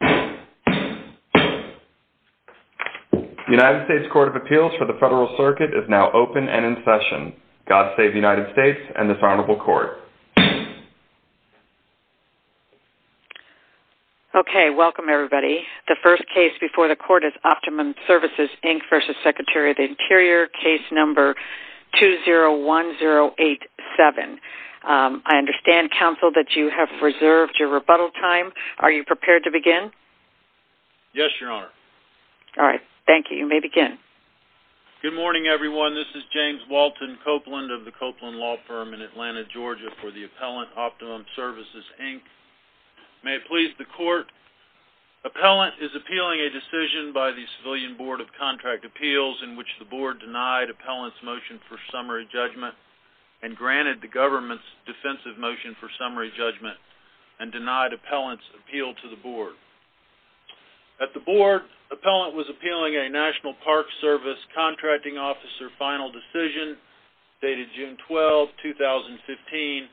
201087. I understand, counsel, that you have reserved your rebuttal time. Are you prepared to begin? Yes, Your Honor. All right. Thank you. You may begin. Good morning, everyone. This is James Walton Copeland of the Copeland Law Firm in Atlanta, Georgia, for the Appellant Optimum Services, Inc. May it please the Court, Appellant is appealing a decision by the Civilian Board of Contract Appeals in which the Board denied Appellant's motion for summary judgment and granted the government's defensive motion for summary judgment and denied Appellant's appeal to the Board. At the Board, Appellant was appealing a National Park Service contracting officer final decision dated June 12, 2015,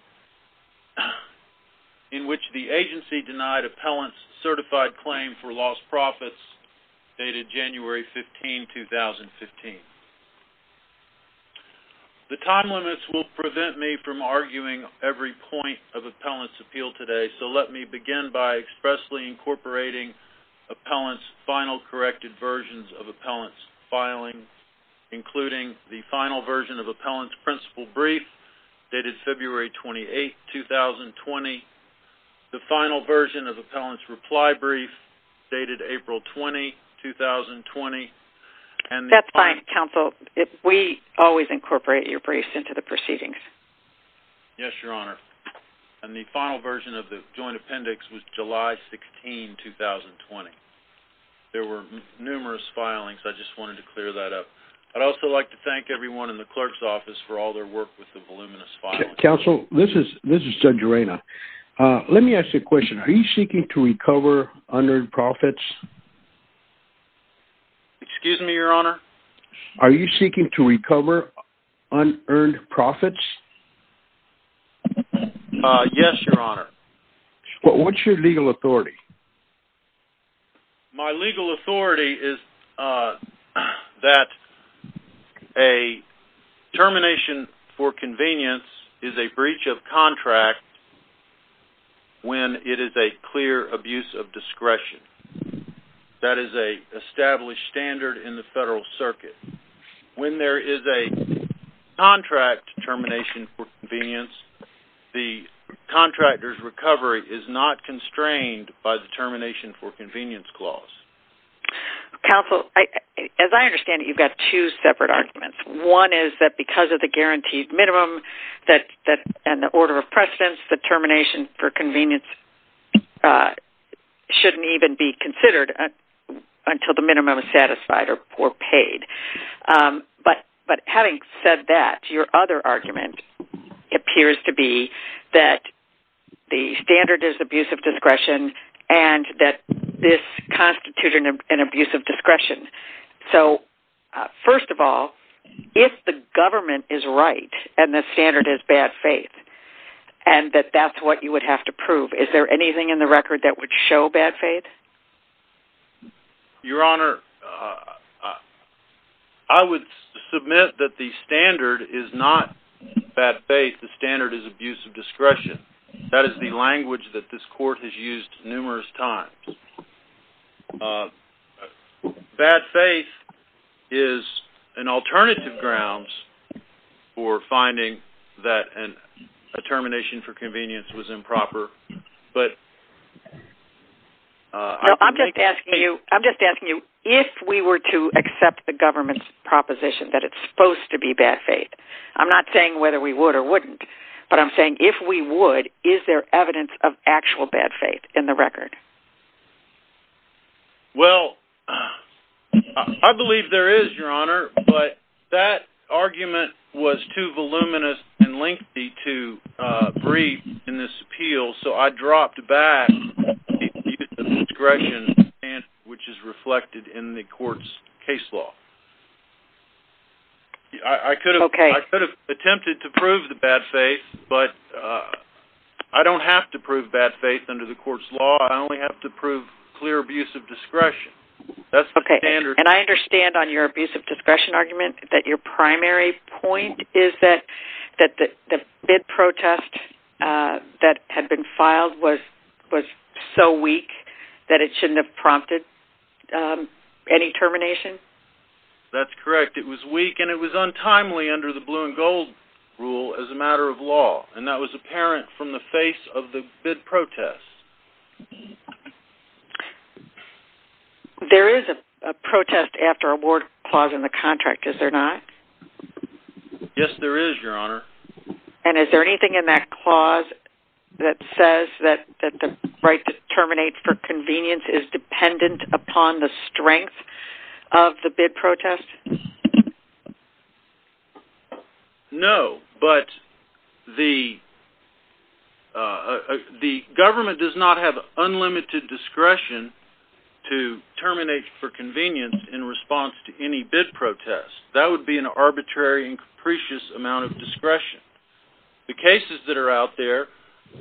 in which the agency denied Appellant's certified claim for lost profits dated January 15, 2015. The time limits will prevent me from arguing every point of Appellant's appeal today, so let me begin by expressly incorporating Appellant's final corrected versions of Appellant's filing, including the final version of Appellant's principal brief dated February 28, 2020, the final version of Appellant's reply brief dated April 20, 2020, and the... That's fine, counsel. We always incorporate your briefs into the briefs, Your Honor. And the final version of the joint appendix was July 16, 2020. There were numerous filings. I just wanted to clear that up. I'd also like to thank everyone in the clerk's office for all their work with the voluminous filing. Counsel, this is Judge Arena. Let me ask you a question. Are you seeking to recover unearned profits? Excuse me, Your Honor? Are you seeking to recover unearned profits? Yes, Your Honor. What's your legal authority? My legal authority is that a termination for convenience is a breach of contract when it is a clear abuse of discretion. That is a established standard in the Federal Circuit. When there is a contract termination for convenience, the contractor's recovery is not constrained by the termination for convenience clause. Counsel, as I understand it, you've got two separate arguments. One is that because of the guaranteed minimum and the order of precedence, the termination for convenience shouldn't even be considered until the minimum is satisfied or paid. But having said that, your other argument appears to be that the standard is abuse of discretion and that this constitutes an abuse of discretion. So, first of all, if the government is right and the standard is bad faith and that that's what you would have to prove, is there anything in the record that would show bad faith? Your Honor, I would submit that the standard is not bad faith. The standard is abuse of discretion. That is the language that this court has used numerous times. Bad faith is an alternative grounds for finding that a termination for convenience was improper. I'm just asking you if we were to accept the government's proposition that it's supposed to be bad faith. I'm not saying whether we would or wouldn't, but I'm saying if we would, is there evidence of actual bad faith in the record? Well, I believe there is, Your Honor, but that argument was too voluminous and lengthy to breathe in this appeal, so I dropped back the use of discretion which is reflected in the court's case law. I could have attempted to prove the bad faith, but I don't have to prove bad faith under the court's law. I only have to prove clear abuse of discretion. That's the standard. And I understand on your abuse of discretion argument that your primary point is that the bid protest that had been filed was so weak that it shouldn't have prompted any termination? That's correct. It was weak and it was untimely under the blue and gold rule as a matter of law and that was apparent from the face of the bid protest. There is a protest after award clause in the contract, is there not? Yes, there is, Your Honor. And is there anything in that clause that says that the right to terminate for convenience is dependent upon the strength of the bid protest? No, but the government does not have unlimited discretion to terminate for convenience in response to any bid protest. That would be an arbitrary and capricious amount of discretion. The cases that are out there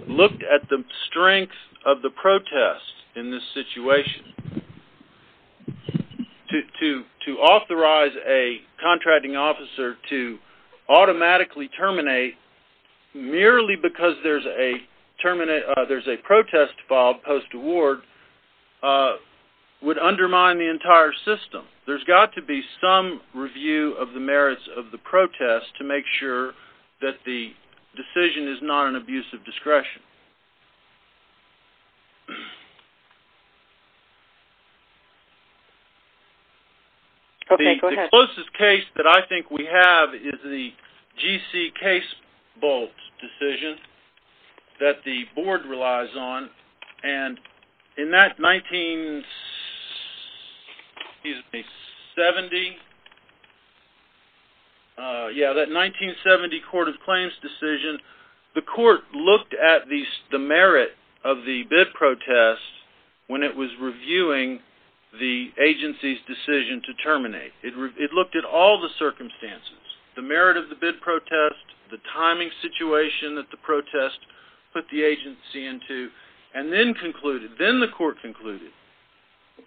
looked at the strength of the protest in this situation. And to authorize a contracting officer to automatically terminate merely because there's a protest filed post-award would undermine the entire system. There's got to be some review of the merits of the protest to make sure that the decision is not an abuse of discretion. The closest case that I think we have is the G.C. Case Bolt decision that the board relies on. And in that 1970 Court of Claims decision, the court looked at the merit of the bid protest when it was reviewing the agency's decision to terminate. It looked at all the circumstances, the merit of the bid protest, the timing situation that the protest put the agency into, and then concluded, then the court concluded,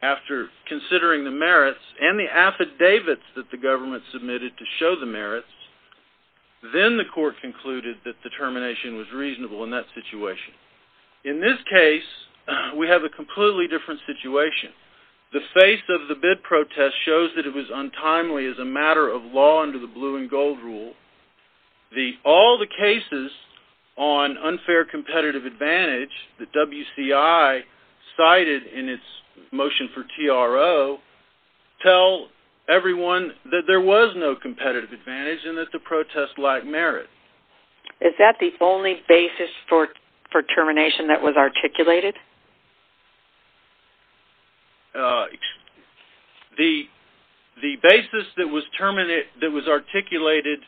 after considering the merits and the affidavits that the government submitted to show the merits, then the court concluded that the completely different situation. The face of the bid protest shows that it was untimely as a matter of law under the blue and gold rule. All the cases on unfair competitive advantage that W.C.I. cited in its motion for T.R.O. tell everyone that there was no competitive advantage and that the protest lacked merit. Is that the only basis for termination that was articulated? The basis that was articulated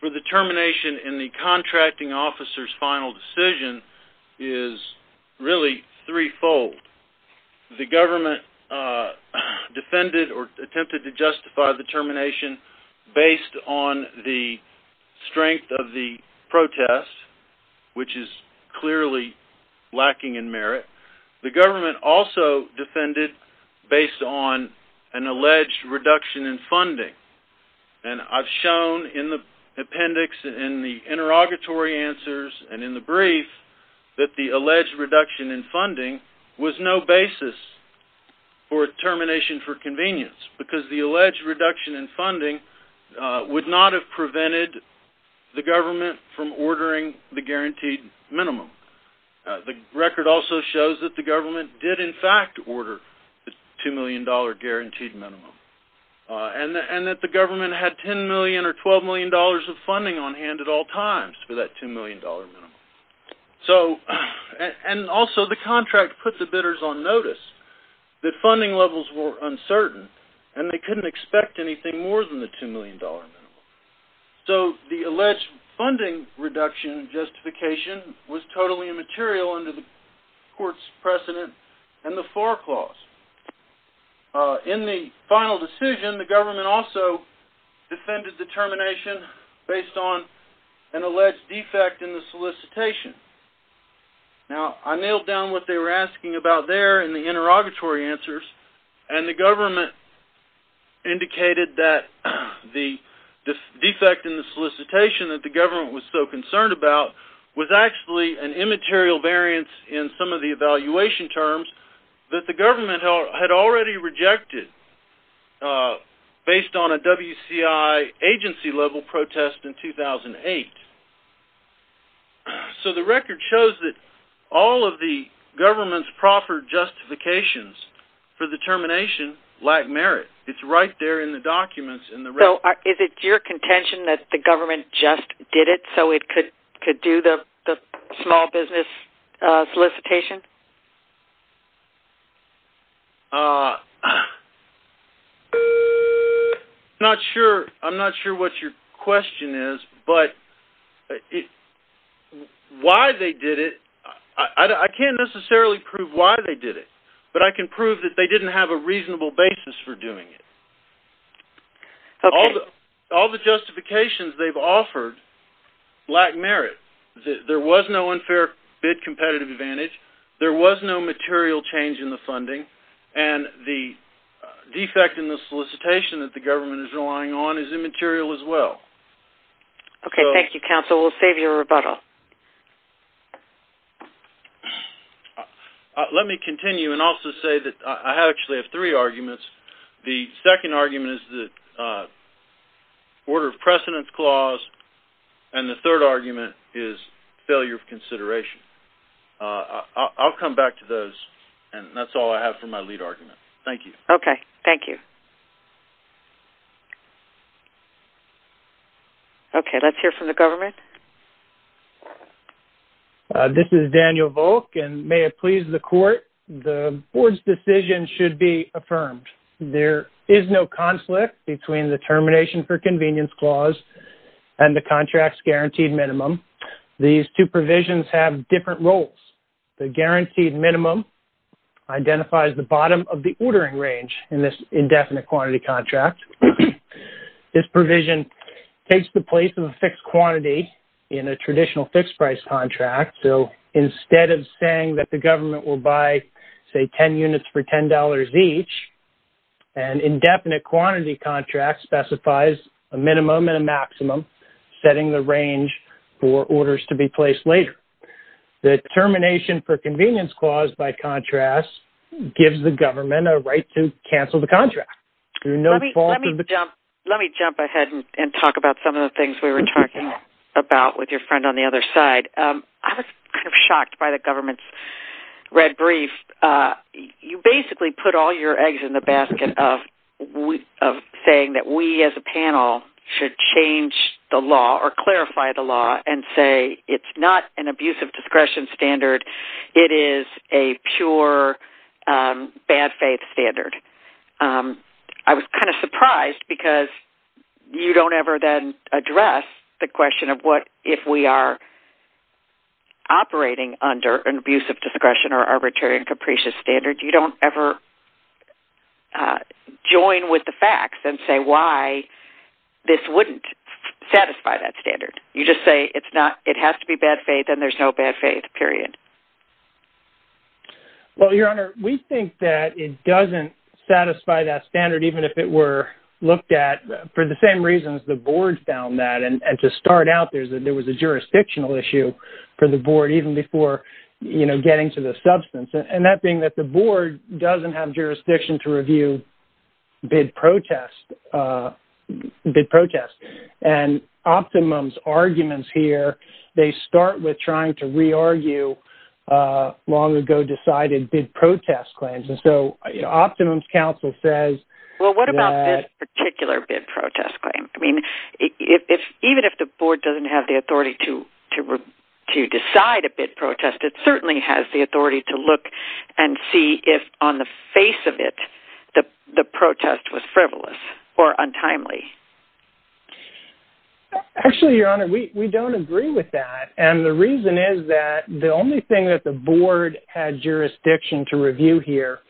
for the termination in the contracting officer's final decision is really threefold. The government defended or attempted to justify the termination based on the strength of the protest, which is clearly lacking in merit. The government also defended based on an alleged reduction in funding. I've shown in the appendix, in the interrogatory answers, and in the brief that the alleged reduction in funding was no basis for termination for convenience because the alleged reduction in funding would not have prevented the government from ordering the guaranteed minimum. The record also shows that the government did in fact order the $2 million guaranteed minimum and that the government had $10 million or $12 million of funding on hand at all times for that $2 million minimum. Also, the contract put the bidders on uncertain and they couldn't expect anything more than the $2 million minimum. So the alleged funding reduction justification was totally immaterial under the court's precedent and the FAR clause. In the final decision, the government also defended the termination based on an alleged defect in the solicitation. Now, I nailed down what they were asking about there in the interrogatory answers and the government indicated that the defect in the solicitation that the government was so concerned about was actually an immaterial variance in some of the evaluation terms that the government had already rejected based on a WCI agency level protest in 2008. So the record shows that all of the government's proper justifications for the termination lack merit. It's right there in the documents. Is it your contention that the government just did it so it could do the small I can't necessarily prove why they did it, but I can prove that they didn't have a reasonable basis for doing it. All the justifications they've offered lack merit. There was no unfair bid competitive advantage. There was no material change in the funding and the defect in the solicitation that the government is relying on is immaterial as well. Okay, thank you counsel. We'll save you a rebuttal. Let me continue and also say that I actually have three arguments. The second argument is the order of precedence clause and the third argument is failure of consideration. I'll come back to those and that's all I have for my lead argument. Thank you. Okay, thank you. Okay, let's hear from the government. This is Daniel Volk and may it please the court the board's decision should be affirmed. There is no conflict between the termination for convenience clause and the contract's guaranteed minimum. These two provisions have different roles. The guaranteed minimum identifies the bottom of the ordering range in this indefinite quantity contract. This provision takes the place of a fixed quantity in a traditional fixed price contract. So instead of saying that the government will buy say 10 units for $10 each, an indefinite quantity contract specifies a minimum and a maximum setting the range for orders to be placed later. The termination for convenience clause by contrast gives the government a right to cancel the contract. Let me jump ahead and talk about some of the things we were talking about with your friend on the other side. I was kind of shocked by the government's red brief. You basically put all your eggs in the basket of saying that we as a panel should change the law or clarify the law and say it's not an abusive discretion standard. It is a pure bad faith standard. I was kind of surprised because you don't ever then address the question of what if we are operating under an abusive discretion or arbitrary and capricious standard. You don't ever join with the facts and say why this wouldn't satisfy that standard. You just say it's not, it has to be bad faith and there's no bad faith period. Well, your honor, we think that it doesn't satisfy that standard even if it were looked at for the same reasons the board found that. To start out, there was a jurisdictional issue for the board even before getting to the substance. That being that the board doesn't have jurisdiction to review bid protests. Optimum's arguments here, they start with trying to re-argue long ago decided bid protest claims. Optimum's counsel says- Well, what about this particular bid protest claim? Even if the board doesn't have the authority to decide a bid protest, it certainly has the authority to look and see if on the face of it, the protest was frivolous or untimely. Actually, your honor, we don't agree with that. The reason is that the only thing that the board had jurisdiction to review here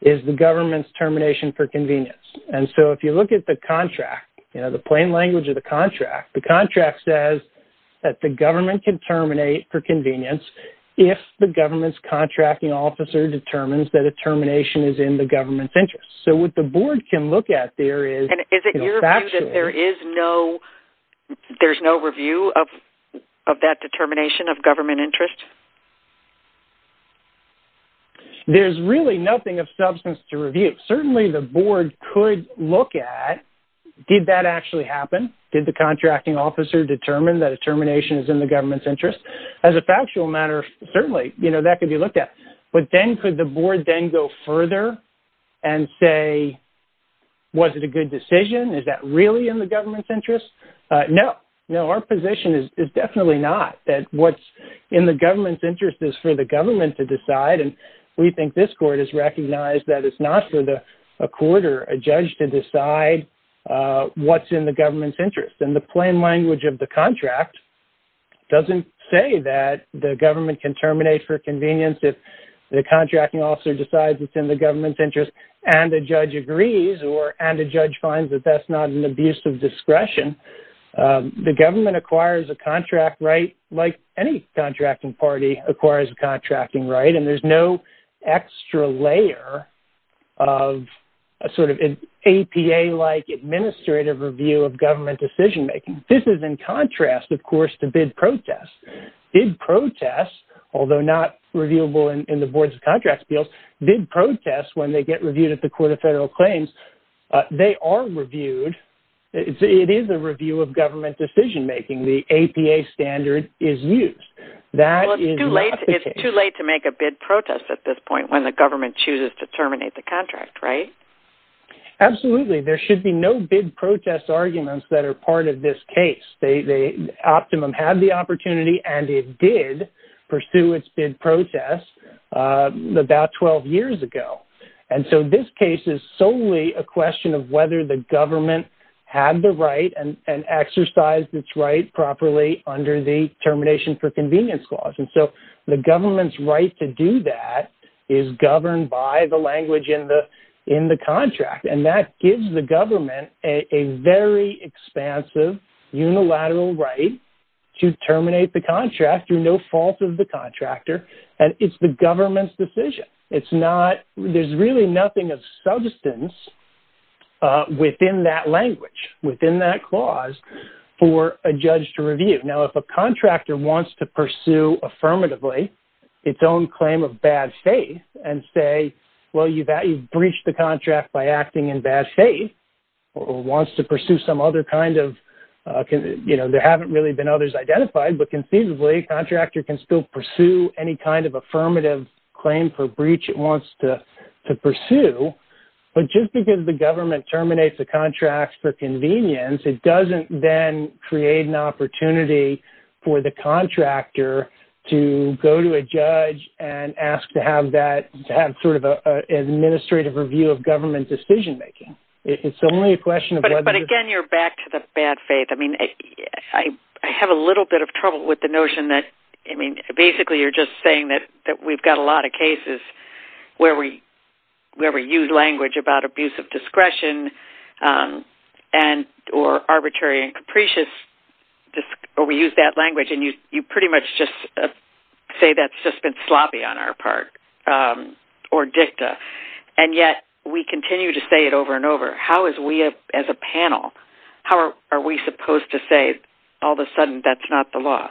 is the government's termination for convenience. If you look at the contract, the plain language of the contract, the contract says that the government can terminate for convenience if the government's contracting officer determines that a termination is in the government's interest. What the board can look at there is- Is it your view that there's no review of that determination of government interest? There's really nothing of substance to review. Certainly, the board could look at, did that actually happen? Did the contracting officer determine that a termination is in the government's interest? As a factual matter, certainly that could be looked at. But then could the board then go further and say, was it a good decision? Is that really in the government's interest? No. Our position is definitely not that what's in the government's interest is for the government to decide. We think this court has recognized that it's not for a court or a judge to decide what's in the government's interest. The plain language of the contract doesn't say that the government can terminate for convenience if the contracting officer decides it's in the government's interest and the judge agrees or- and the judge finds that that's not an abuse of discretion. The government acquires a contract right like any contracting party acquires a contracting right. And there's no extra layer of a sort of APA-like administrative review of government decision-making. This is in contrast, of course, to bid protests. Bid protests, although not reviewable in the board's contracts bills, bid protests when they get reviewed at the Court of Federal Claims, they are reviewed. It is a review of government decision-making. The APA standard is used. That is not the case. It's too late to make a bid protest at this point when the government chooses to terminate the contract, right? Absolutely. There should be no bid protest arguments that are part of this case. Optimum had the opportunity and it did pursue its bid protest about 12 years ago. And so this case is solely a question of whether the government had the right and exercised its right properly under the termination for convenience clause. And so the government's right to do that is governed by the language in the contract. And that gives the government a very expansive unilateral right to terminate the contract through no fault of the contractor. And it's the government's decision. There's really nothing of substance within that language, within that clause for a judge to review. Now, if a contractor wants to and say, well, you've breached the contract by acting in bad faith or wants to pursue some other kind of, you know, there haven't really been others identified, but conceivably contractor can still pursue any kind of affirmative claim for breach it wants to pursue. But just because the government terminates the contracts for convenience, it doesn't then create an opportunity for the contractor to go to a judge and ask to have that, to have sort of an administrative review of government decision-making. It's only a question of whether- But again, you're back to the bad faith. I mean, I have a little bit of trouble with the notion that, I mean, basically you're just saying that we've got a lot of cases where we use language about abuse of discretion and or arbitrary and capricious, or we use that language and you pretty much just say that's just been sloppy on our part or dicta. And yet we continue to say it over and over. How is we as a panel, how are we supposed to say all of a sudden that's not the law?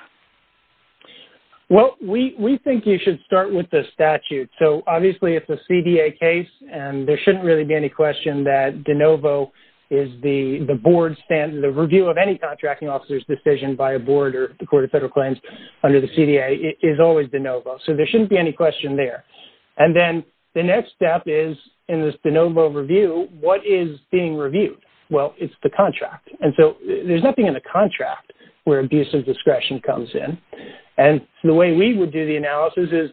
Well, we think you should start with the statute. So obviously it's a CDA case and there shouldn't really be any question that de novo is the board stand, the review of any contracting officer's decision by a board or the Court of Federal Claims under the CDA is always de novo. So there shouldn't be any question there. And then the next step is in this de novo review, what is being reviewed? Well, it's the contract. And so there's nothing in the contract where abuse of discretion comes in. And the way we would do the analysis is,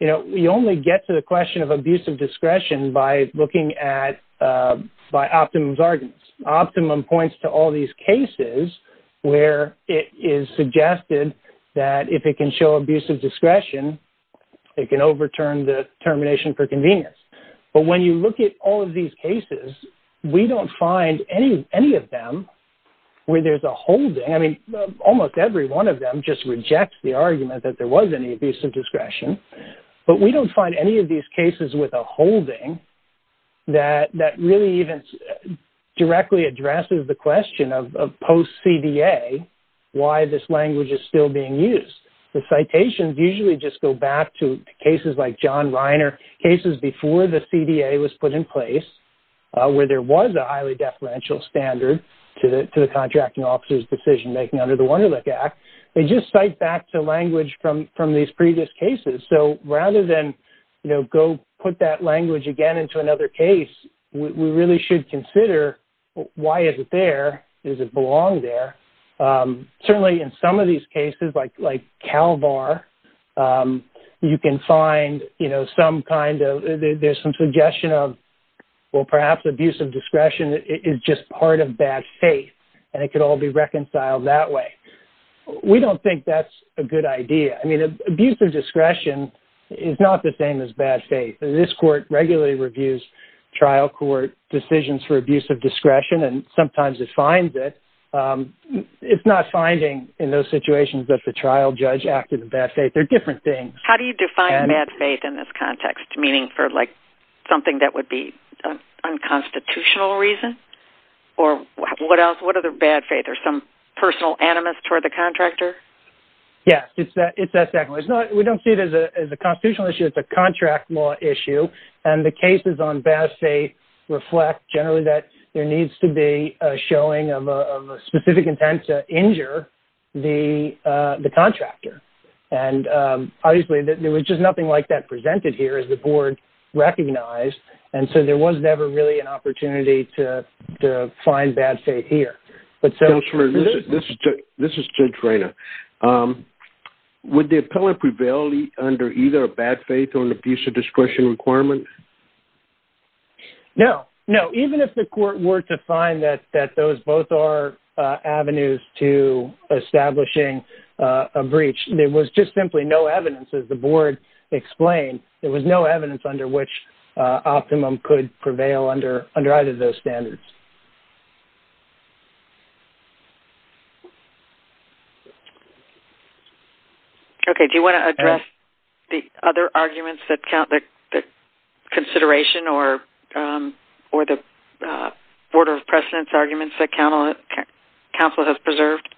you only get to the question of abuse of discretion by looking at by optimum arguments. Optimum points to all these cases where it is suggested that if it can show abuse of discretion, it can overturn the termination for convenience. But when you look at all of these cases, we don't find any of them where there's a holding. I mean, almost every one of them just rejects the argument that there was any abuse of discretion. But there are cases with a holding that really even directly addresses the question of post CDA, why this language is still being used. The citations usually just go back to cases like John Reiner, cases before the CDA was put in place, where there was a highly deferential standard to the contracting officer's decision making under the Wunderlich Act. They just cite back to language from these previous cases. So rather than, you know, go put that language again into another case, we really should consider, why is it there? Does it belong there? Certainly in some of these cases, like CalVar, you can find, you know, some kind of, there's some suggestion of, well, perhaps abuse of discretion is just part of bad faith, and it could all be reconciled that way. We don't think that's a good idea. I mean, abuse of discretion is not the same as bad faith. This court regularly reviews trial court decisions for abuse of discretion, and sometimes it finds it. It's not finding in those situations that the trial judge acted in bad faith. They're different things. How do you define bad faith in this case? What other bad faith? There's some personal animus toward the contractor? Yes, it's that second one. We don't see it as a constitutional issue. It's a contract law issue, and the cases on bad faith reflect generally that there needs to be a showing of a specific intent to injure the contractor. And obviously, there was just nothing like that presented here, as the board recognized, and so there was never really an opportunity to find bad faith here. Counselor, this is Judge Reyna. Would the appellant prevail under either a bad faith or an abuse of discretion requirement? No, no. Even if the court were to find that those both are avenues to establishing a breach, there was just simply no evidence, as the board explained, there was no evidence under which optimum could prevail under either of those standards. Okay. Do you want to address the other arguments that count, the consideration or the order of precedence arguments that counsel has preserved?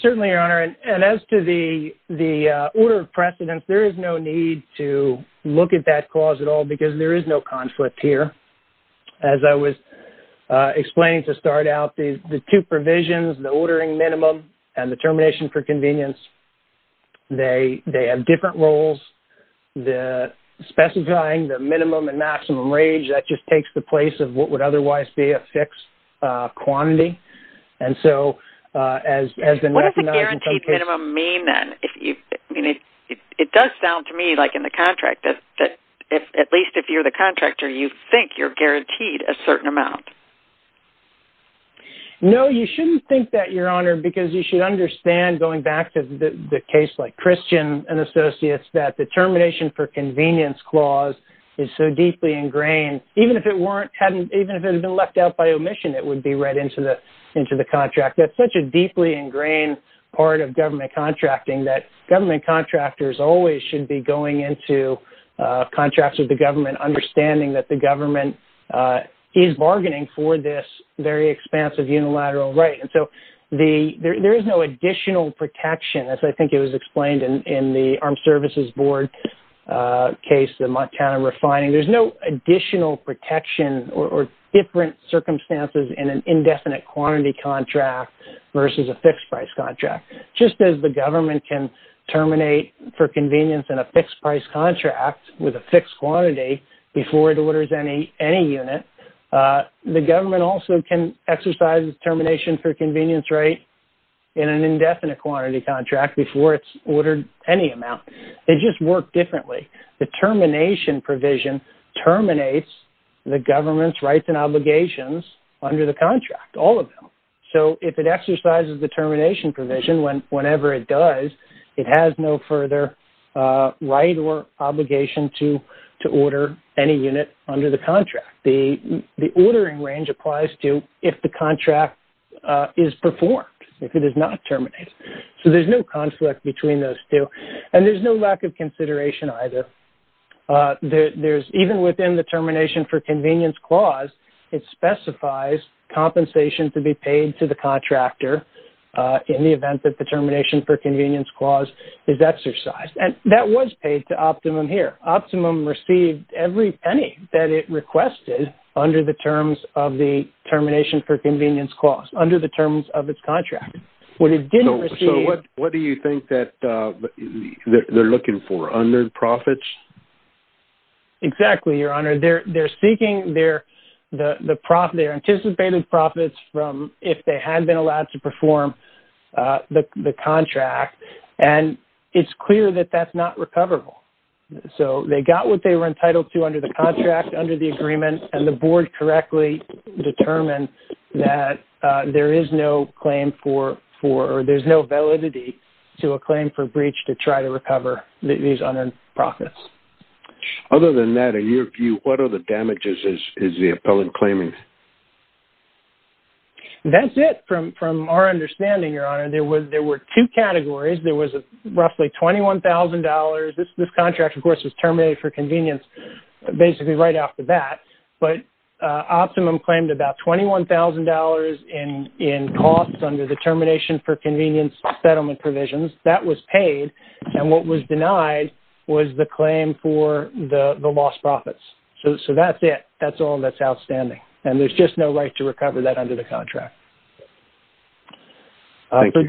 Certainly, Your Honor. And as to the order of precedence, there is no need to look at that clause at all, because there is no conflict here. As I was explaining to start out, the two provisions, the ordering minimum and the termination for convenience, they have different roles. The specifying the minimum and maximum range, that just takes the place of what would have been recognized in some cases. What does the guaranteed minimum mean, then? It does sound to me, like in the contract, that at least if you're the contractor, you think you're guaranteed a certain amount. No, you shouldn't think that, Your Honor, because you should understand, going back to the case like Christian and associates, that the termination for convenience clause is so deeply ingrained. Even if it had been left out by omission, it would be right into the contract. That's such a deeply ingrained part of government contracting, that government contractors always should be going into contracts with the government, understanding that the government is bargaining for this very expansive unilateral right. And so, there is no additional protection, as I think it was explained in the Armed Services Board case, the Montana refining. There's no additional protection or different circumstances in an indefinite quantity contract versus a fixed price contract. Just as the government can terminate for convenience in a fixed price contract with a fixed quantity before it orders any unit, the government also can exercise termination for convenience right in an indefinite quantity contract before it's terminates the government's rights and obligations under the contract, all of them. So, if it exercises the termination provision, whenever it does, it has no further right or obligation to order any unit under the contract. The ordering range applies to if the contract is performed, if it is not terminated. So, there's no conflict between those two. And there's no lack of consideration either. Even within the termination for convenience clause, it specifies compensation to be paid to the contractor in the event that the termination for convenience clause is exercised. And that was paid to Optimum here. Optimum received every penny that it requested under the terms of the termination for convenience clause, under the terms of its contract. When it didn't receive... So, what do you think that they're looking for? Under the profits? Exactly, Your Honor. They're seeking their anticipated profits from if they had been allowed to perform the contract. And it's clear that that's not recoverable. So, they got what they were entitled to under the contract, under the agreement, and the board correctly determined that there is no claim for... There's no validity to a claim for breach to try to recover these profits. Other than that, in your view, what are the damages is the appellant claiming? That's it. From our understanding, Your Honor, there were two categories. There was roughly $21,000. This contract, of course, was terminated for convenience basically right after that. But Optimum claimed about $21,000 in costs under the termination for convenience settlement provisions. That was paid. And what was denied was the claim for the lost profits. So, that's it. That's all that's outstanding. And there's just no right to recover that under the contract. For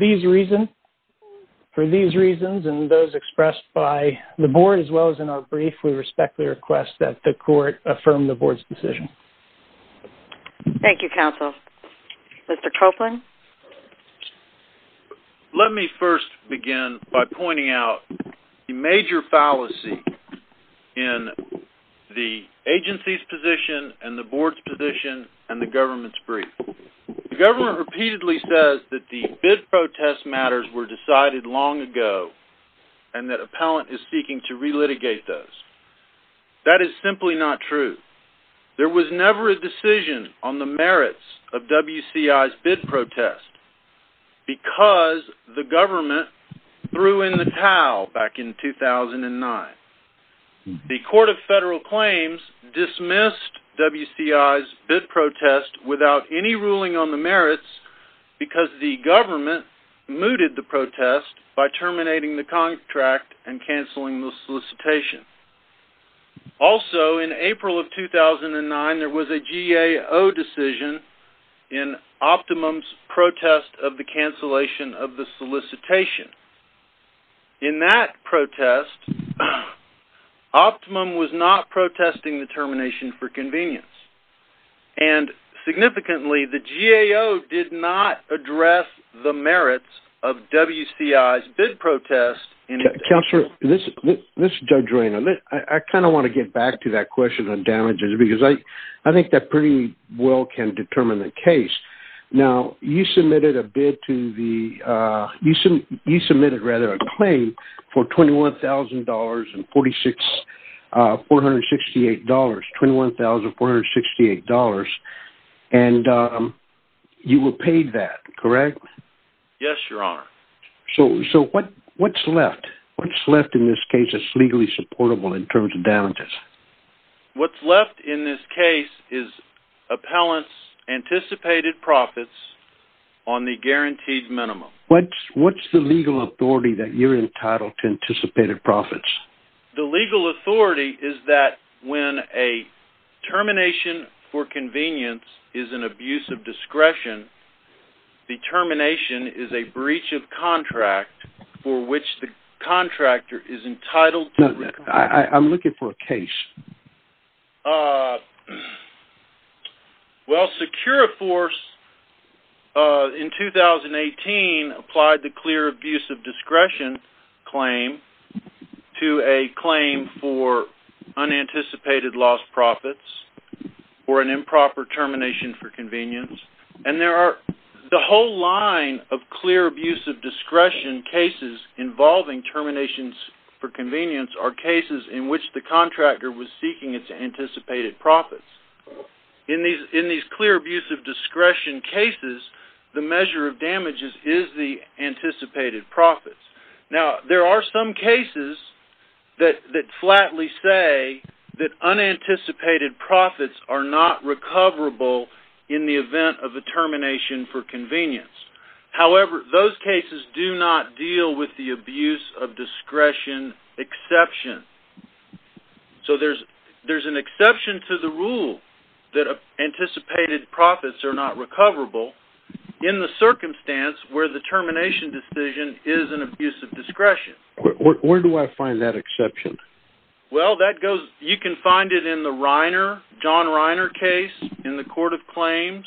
these reasons and those expressed by the board as well as in our brief, we respectfully request that the court affirm the board's decision. Thank you, counsel. Mr. Copeland? Let me first begin by pointing out the major fallacy in the agency's position and the board's position and the government's brief. The government repeatedly says that the bid protest matters were those. That is simply not true. There was never a decision on the merits of WCI's bid protest because the government threw in the towel back in 2009. The Court of Federal Claims dismissed WCI's bid protest without any ruling on the merits because the government mooted the protest by cancelling the solicitation. Also, in April of 2009, there was a GAO decision in Optimum's protest of the cancellation of the solicitation. In that protest, Optimum was not protesting the termination for convenience. And significantly, the GAO did not address the merits of WCI's bid protest. Counselor, I kind of want to get back to that question on damages because I think that pretty well can determine the case. Now, you submitted a claim for $21,468 and you were paid that, correct? Yes, Your Honor. So what's left? What's left in this case that's legally supportable in terms of damages? What's left in this case is appellants' anticipated profits on the guaranteed minimum. What's the legal authority that you're entitled to anticipated profits? The legal authority is that when a termination for convenience is an abuse of discretion, the termination is a breach of contract for which the contractor is entitled. I'm looking for a case. Well, Securiforce in 2018 applied the clear abuse of discretion claim to a claim for unanticipated lost profits or an improper termination for convenience. And there are the whole line of clear abuse of discretion cases involving terminations for convenience are cases in which the contractor was seeking its anticipated profits. In these clear abuse of discretion cases, the measure of damages is the anticipated profits. Now, there are some cases that flatly say that unanticipated profits are not recoverable in the event of a termination for convenience. However, those cases do not deal with the abuse of discretion exception. So there's an exception to the rule that anticipated profits are not recoverable in the circumstance where the termination decision is an abuse of discretion. Where do I find that exception? Well, that goes, you can find it in the Reiner, John Reiner case in the Court of Claims,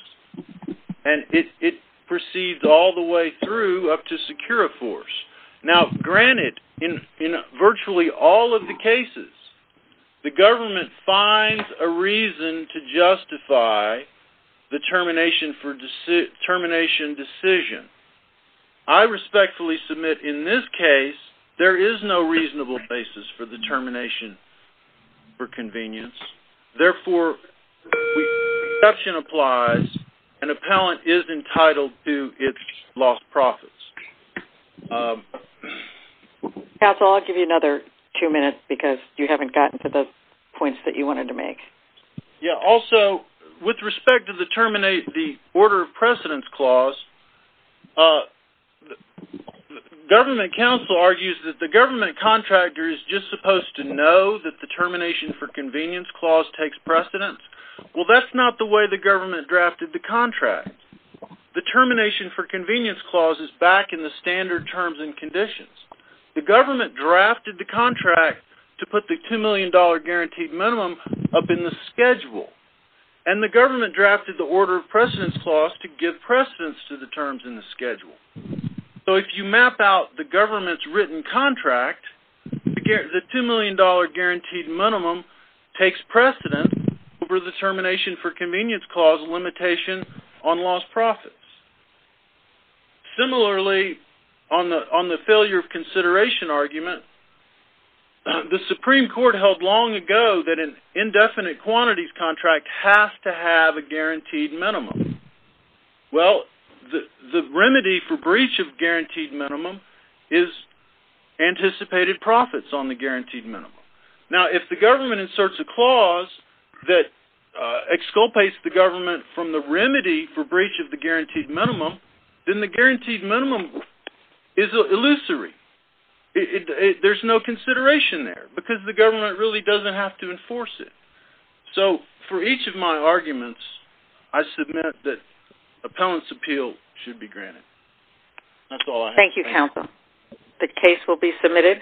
and it proceeds all the way through up to Securiforce. Now, granted, in virtually all of the cases, the government finds a reason to justify the termination decision. I respectfully submit in this case, there is no reasonable basis for termination for convenience. Therefore, the exception applies and an appellant is entitled to its lost profits. Counsel, I'll give you another two minutes because you haven't gotten to the points that you wanted to make. Yeah. Also, with respect to the order of precedence clause, a government counsel argues that the government contractor is just supposed to know that the termination for convenience clause takes precedence. Well, that's not the way the government drafted the contract. The termination for convenience clause is back in the standard terms and conditions. The government drafted the contract to put the $2 million guaranteed minimum up in the schedule. And the government drafted the order of precedence clause to give precedence to the terms in the schedule. So if you map out the government's written contract, the $2 million guaranteed minimum takes precedent over the termination for convenience clause limitation on lost profits. Similarly, on the failure of consideration argument, the Supreme Court held long ago that an indefinite quantities contract has to have a guaranteed minimum. Well, the remedy for breach of guaranteed minimum is anticipated profits on the guaranteed minimum. Now, if the government inserts a clause that exculpates the government from the remedy for breach of the guaranteed minimum, then the guaranteed minimum is illusory. There's no consideration there because the government really doesn't have to enforce it. So for each of my submissions, I submit that appellant's appeal should be granted. That's all I have. Thank you, counsel. The case will be submitted.